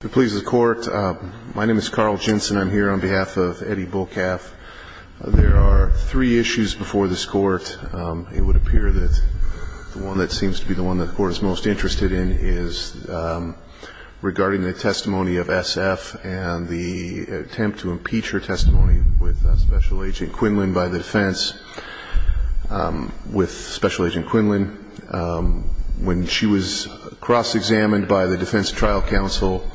If it pleases the Court, my name is Carl Jensen. I'm here on behalf of Eddy Bullcalf. There are three issues before this Court. It would appear that the one that seems to be the one that the Court is most interested in is regarding the testimony of S.F. and the attempt to impeach her testimony with Special Agent Quinlan by the defense. When she was cross-examined by the Defense Trial Council,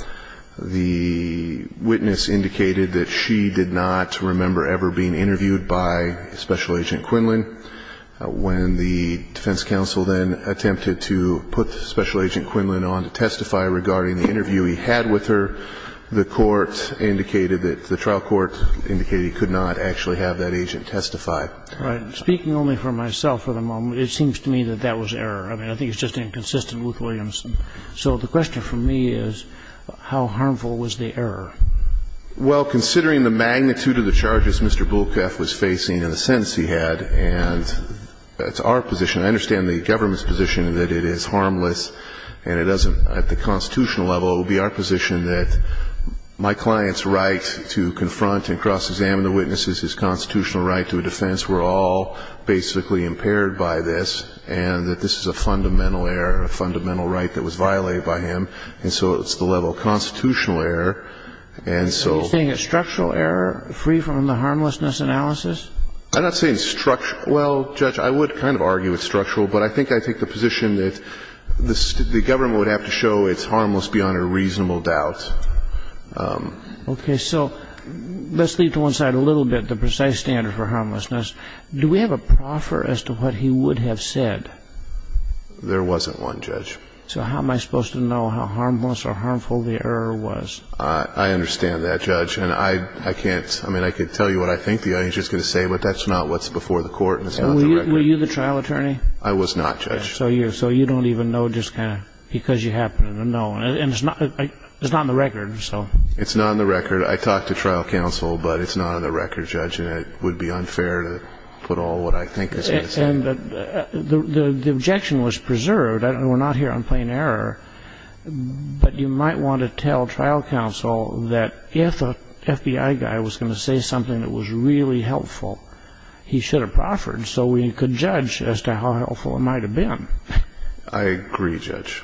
the witness indicated that she did not remember ever being interviewed by Special Agent Quinlan. When the Defense Council then attempted to put Special Agent Quinlan on to testify regarding the interview he had with her, the trial court indicated he could not actually have that agent testify. The question is how harmful was the error? Mr. Bullcalf was facing and the sentence he had, and that's our position. I understand the government's position is that it is harmless and it doesn't at the constitutional level. It will be our position that my client's right to confront and cross-examine the witness is his constitutional right to a defense where all he does is basically impaired by this, and that this is a fundamental error, a fundamental right that was violated by him, and so it's the level of constitutional error. Are you saying it's structural error, free from the harmlessness analysis? I'm not saying it's structural. Well, Judge, I would kind of argue it's structural, but I think I take the position that the government would have to show it's harmless beyond a reasonable doubt. Okay, so let's leave to one side a little bit the precise standard for harmlessness. Do we have a proffer as to what he would have said? There wasn't one, Judge. So how am I supposed to know how harmless or harmful the error was? I understand that, Judge, and I can't – I mean, I could tell you what I think the judge is going to say, but that's not what's before the court, and it's not the record. Were you the trial attorney? I was not, Judge. So you don't even know just kind of because you happen to know, and it's not on the record, so... It's not on the record. I talked to trial counsel, but it's not on the record, Judge, and it would be unfair to put all what I think is going to say. And the objection was preserved. We're not here on plain error, but you might want to tell trial counsel that if an FBI guy was going to say something that was really helpful, he should have proffered. That's the judge as to how helpful it might have been. I agree, Judge.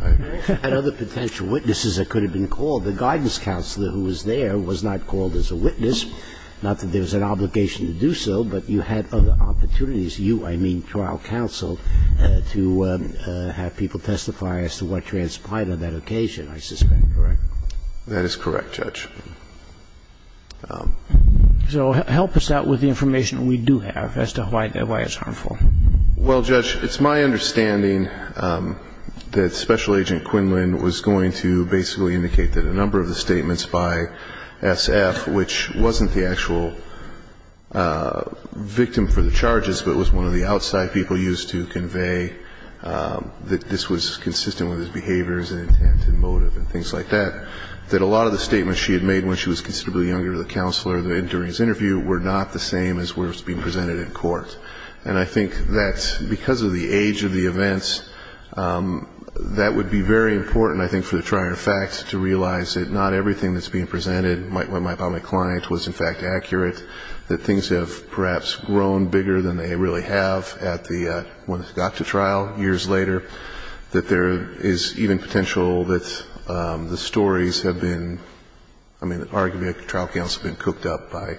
And other potential witnesses that could have been called. The guidance counselor who was there was not called as a witness, not that there was an obligation to do so, but you had other opportunities, you, I mean, trial counsel, to have people testify as to what transpired on that occasion, I suspect, correct? That is correct, Judge. So help us out with the information we do have as to why it's harmful. Well, Judge, it's my understanding that Special Agent Quinlan was going to basically indicate that a number of the statements by S.F., which wasn't the actual victim for the charges, but it was one of the outside people used to convey that this was consistent with his behaviors and intent and motive and things like that, that a lot of the statements she had made, she was not going to use. And I think that because of the age of the events, that would be very important, I think, for the trier of facts to realize that not everything that's being presented by my client was, in fact, accurate, that things have perhaps grown bigger than they really have at the, when it got to trial years later, that there is even potential that the stories have been, you know, in the past. I mean, arguably, a trial counsel has been cooked up by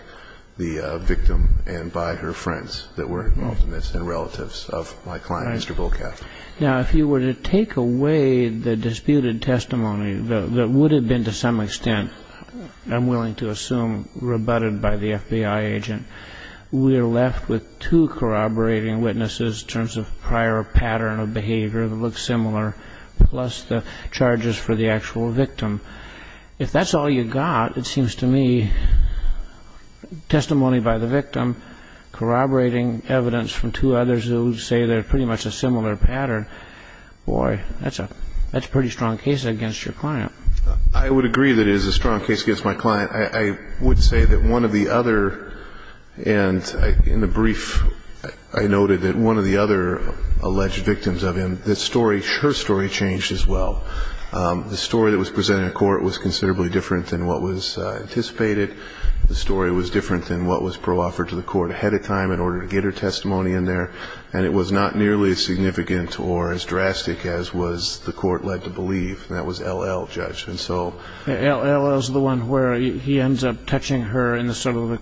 the victim and by her friends that were involved in this and relatives of my client, Mr. Bocaff. Now, if you were to take away the disputed testimony that would have been to some extent, I'm willing to assume, rebutted by the FBI agent, we are left with two corroborating witnesses in terms of prior pattern of behavior that look similar, plus the charges for the actual victim. If that's all you got, it seems to me, testimony by the victim corroborating evidence from two others who say they're pretty much a similar pattern, boy, that's a pretty strong case against your client. I would agree that it is a strong case against my client. I would say that one of the other, and in the brief I noted that one of the other alleged victims of him, her story changed as well. The story that was presented in court was considerably different than what was anticipated. The story was different than what was pro-offered to the court ahead of time in order to get her testimony in there. And it was not nearly as significant or as drastic as was the court led to believe. And that was LL, Judge, and so... LL is the one where he ends up touching her in the sort of...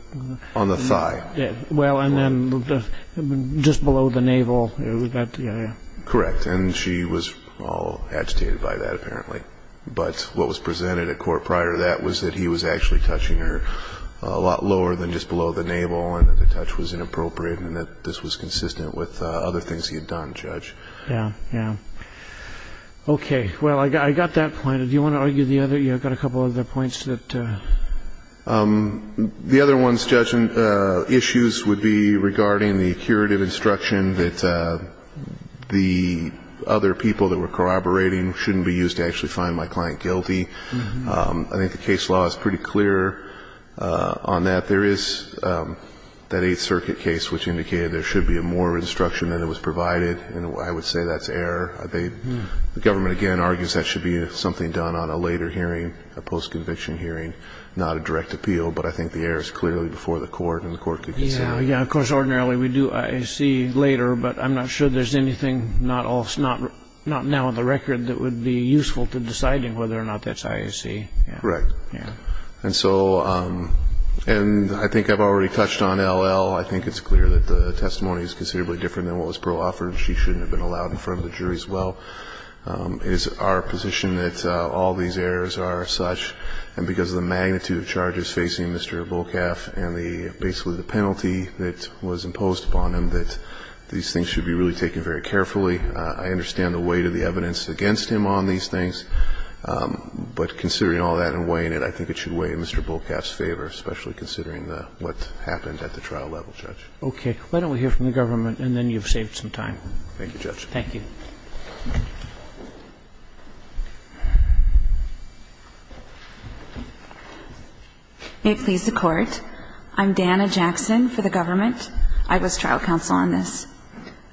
On the thigh. Well, and then just below the navel. Correct, and she was agitated by that, apparently. But what was presented at court prior to that was that he was actually touching her a lot lower than just below the navel, and that the touch was inappropriate, and that this was consistent with other things he had done, Judge. Yeah, yeah. Okay, well, I got that point. Do you want to argue the other? You've got a couple other points that... The other one, Judge, issues would be regarding the curative instruction that the other people that were corroborating shouldn't be used to actually find my client guilty. I think the case law is pretty clear on that. There is that Eighth Circuit case which indicated there should be more instruction than was provided, and I would say that's error. The government, again, argues that should be something done on a later hearing, a post-conviction hearing, not a direct appeal. But I think the error is clearly before the court, and the court could consider... Yeah, of course, ordinarily we do IAC later, but I'm not sure there's anything not now on the record that would be useful to deciding whether or not that's IAC. Correct. And so, and I think I've already touched on LL. I think it's clear that the testimony is considerably different than what was proffered, and she shouldn't have been allowed in front of the jury as well. It is our position that all these errors are such, and because of the magnitude of charges facing Mr. Volkaff, and basically the penalty that was imposed upon him, that these things should be really taken very carefully. I understand the weight of the evidence against him on these things, but considering all that and weighing it, I think it should weigh in Mr. Volkaff's favor, especially considering what happened at the trial level, Judge. Okay. Why don't we hear from the government, and then you've saved some time. Thank you, Judge. Thank you. May it please the Court. I'm Dana Jackson for the government. I was trial counsel on this.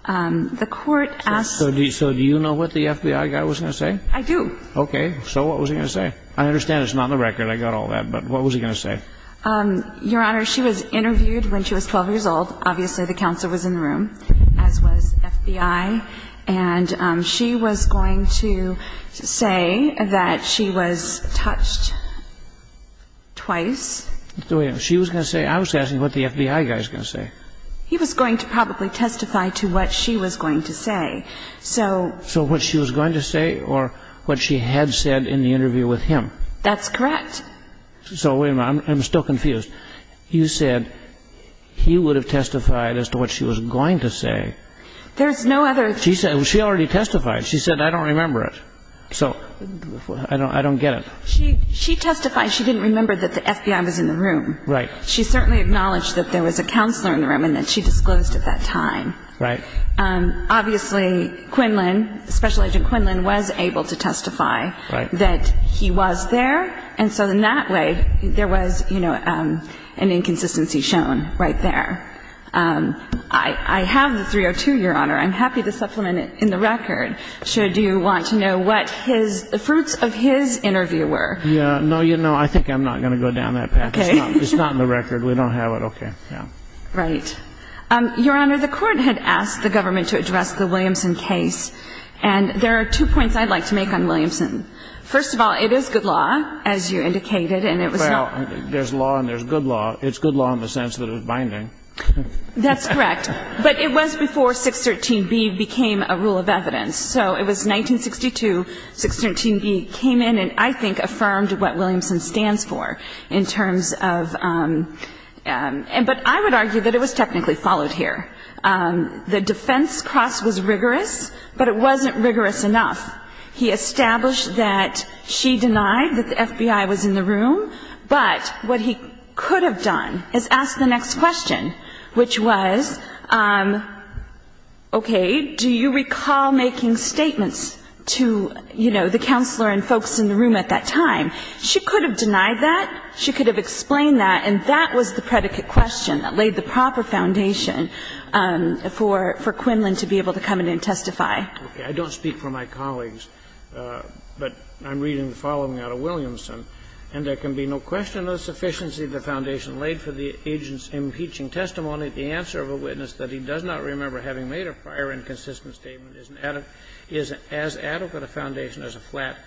The Court asked... So do you know what the FBI guy was going to say? I do. Okay. So what was he going to say? I understand it's not on the record. I got all that. But what was he going to say? Your Honor, she was interviewed when she was 12 years old. Obviously, the counsel was in the room, as was FBI. And she was going to say that she was touched twice. She was going to say? I was asking what the FBI guy was going to say. He was going to probably testify to what she was going to say. So... So what she was going to say or what she had said in the interview with him? That's correct. So wait a minute. I'm still confused. You said he would have testified as to what she was going to say. There's no other... She already testified. She said, I don't remember it. So I don't get it. She testified she didn't remember that the FBI was in the room. Right. She certainly acknowledged that there was a counselor in the room and that she disclosed at that time. Right. Obviously, Quinlan, Special Agent Quinlan, was able to testify that he was there. And so in that way, there was an inconsistency shown right there. I have the 302, Your Honor. I'm happy to supplement it in the record. Do you want to know what the fruits of his interview were? No, I think I'm not going to go down that path. It's not in the record. We don't have it. Okay. Right. Your Honor, the Court had asked the government to address the Williamson case. And there are two points I'd like to make on Williamson. First of all, it is good law, as you indicated, and it was not... Well, there's law and there's good law. It's good law in the sense that it was binding. That's correct. But it was before 613B became a rule of evidence. So it was 1962, 613B came in and I think affirmed what Williamson stands for in terms of... But I would argue that it was technically followed here. The defense cross was rigorous, but it wasn't rigorous enough. He established that she denied that the FBI was in the room, but what he could have done is asked the next question, which was, okay, do you recall making statements to, you know, the counselor and folks in the room at that time? She could have denied that. She could have explained that. And that was the predicate question that laid the proper foundation for Quinlan to be able to come in and testify. Okay. I don't speak for my colleagues, but I'm reading the following out of Williamson. And there can be no question of the sufficiency of the foundation laid for the agent's the answer of a witness that he does not remember having made a prior inconsistent statement is as adequate a foundation as a flat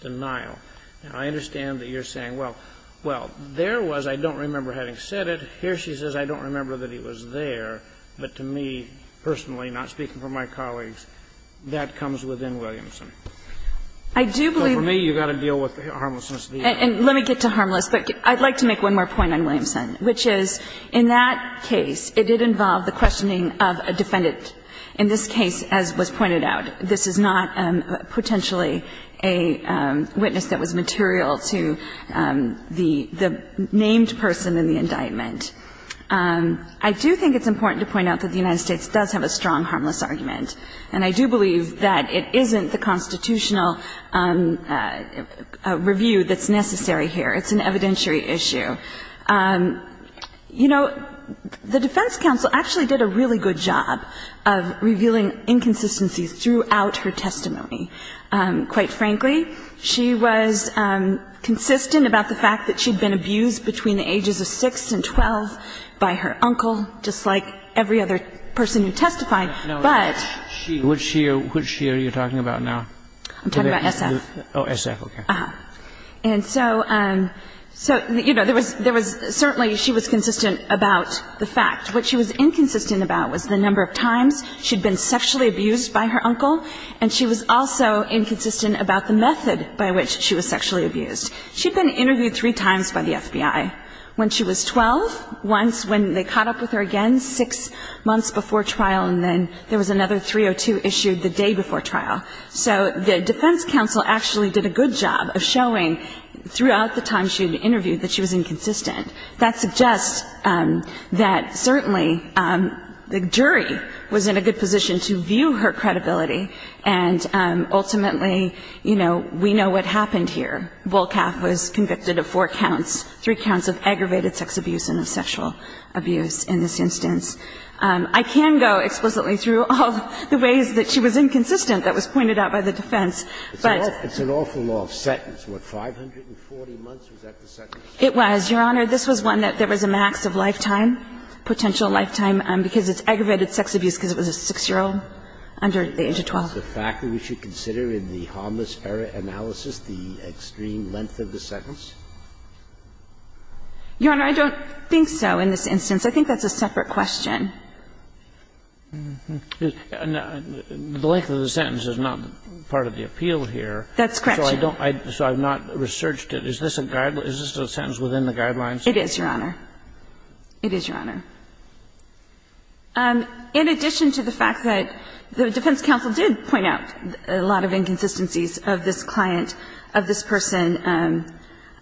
denial. Now, I understand that you're saying, well, well, there was, I don't remember having said it. Here she says, I don't remember that he was there. But to me, personally, not speaking for my colleagues, that comes within Williamson. I do believe... But for me, you've got to deal with the harmlessness of the evidence. And let me get to harmless. But I'd like to make one more point on Williamson, which is, in that case, it did involve the questioning of a defendant. In this case, as was pointed out, this is not potentially a witness that was material to the named person in the indictment. I do think it's important to point out that the United States does have a strong harmless argument. And I do believe that it isn't the constitutional review that's necessary here. It's an evidentiary issue. You know, the defense counsel actually did a really good job of revealing inconsistencies throughout her testimony. Quite frankly, she was consistent about the fact that she'd been abused between the ages of 6 and 12 by her uncle, just like every other person who testified. But... Kagan. Which year are you talking about now? I'm talking about SF. Oh, SF. Okay. Yeah. And so, you know, there was certainly she was consistent about the fact. What she was inconsistent about was the number of times she'd been sexually abused by her uncle. And she was also inconsistent about the method by which she was sexually abused. She'd been interviewed three times by the FBI. When she was 12, once when they caught up with her again, six months before trial, and then there was another 302 issued the day before trial. So the defense counsel actually did a good job of showing throughout the time she had been interviewed that she was inconsistent. That suggests that certainly the jury was in a good position to view her credibility. And ultimately, you know, we know what happened here. Bullcalf was convicted of four counts, three counts of aggravated sex abuse and of sexual abuse in this instance. I can go explicitly through all the ways that she was inconsistent that was pointed out by the defense, but. It's an awful long sentence. What, 540 months? Was that the sentence? It was, Your Honor. This was one that there was a max of lifetime, potential lifetime, because it's aggravated sex abuse because it was a 6-year-old under the age of 12. Is the fact that we should consider in the harmless error analysis the extreme length of the sentence? Your Honor, I don't think so in this instance. I think that's a separate question. The length of the sentence is not part of the appeal here. That's correct, Your Honor. So I've not researched it. Is this a sentence within the guidelines? It is, Your Honor. It is, Your Honor. In addition to the fact that the defense counsel did point out a lot of inconsistencies of this client, of this person,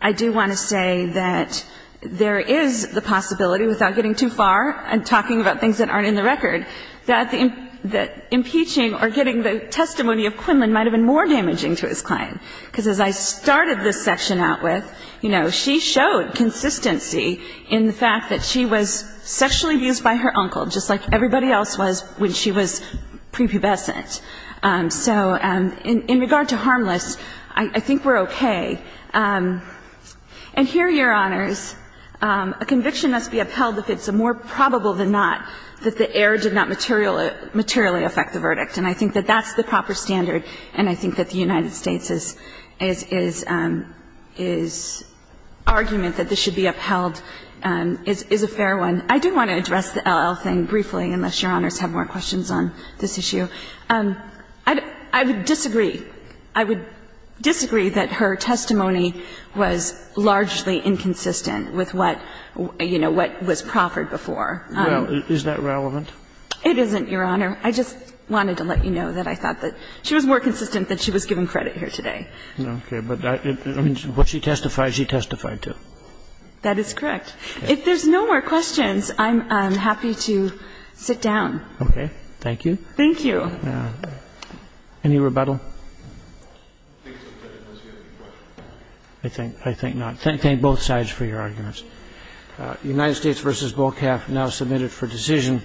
I do want to say that there is the possibility without getting too far and talking about things that aren't in the record, that impeaching or getting the testimony of Quinlan might have been more damaging to his client, because as I started this section out with, you know, she showed consistency in the fact that she was sexually abused by her uncle, just like everybody else was when she was prepubescent. So in regard to harmless, I think we're okay. And here, Your Honors, a conviction must be upheld if it's more probable than not that the error did not materially affect the verdict. And I think that that's the proper standard, and I think that the United States' argument that this should be upheld is a fair one. I do want to address the LL thing briefly, unless Your Honors have more questions on this issue. I would disagree. I would disagree that her testimony was largely inconsistent with what, you know, what was proffered before. Well, is that relevant? It isn't, Your Honor. I just wanted to let you know that I thought that she was more consistent than she was giving credit here today. Okay. But what she testified, she testified to. That is correct. If there's no more questions, I'm happy to sit down. Okay. Thank you. Thank you. Any rebuttal? I think not. Thank both sides for your arguments. United States v. BOCAF now submitted for decision.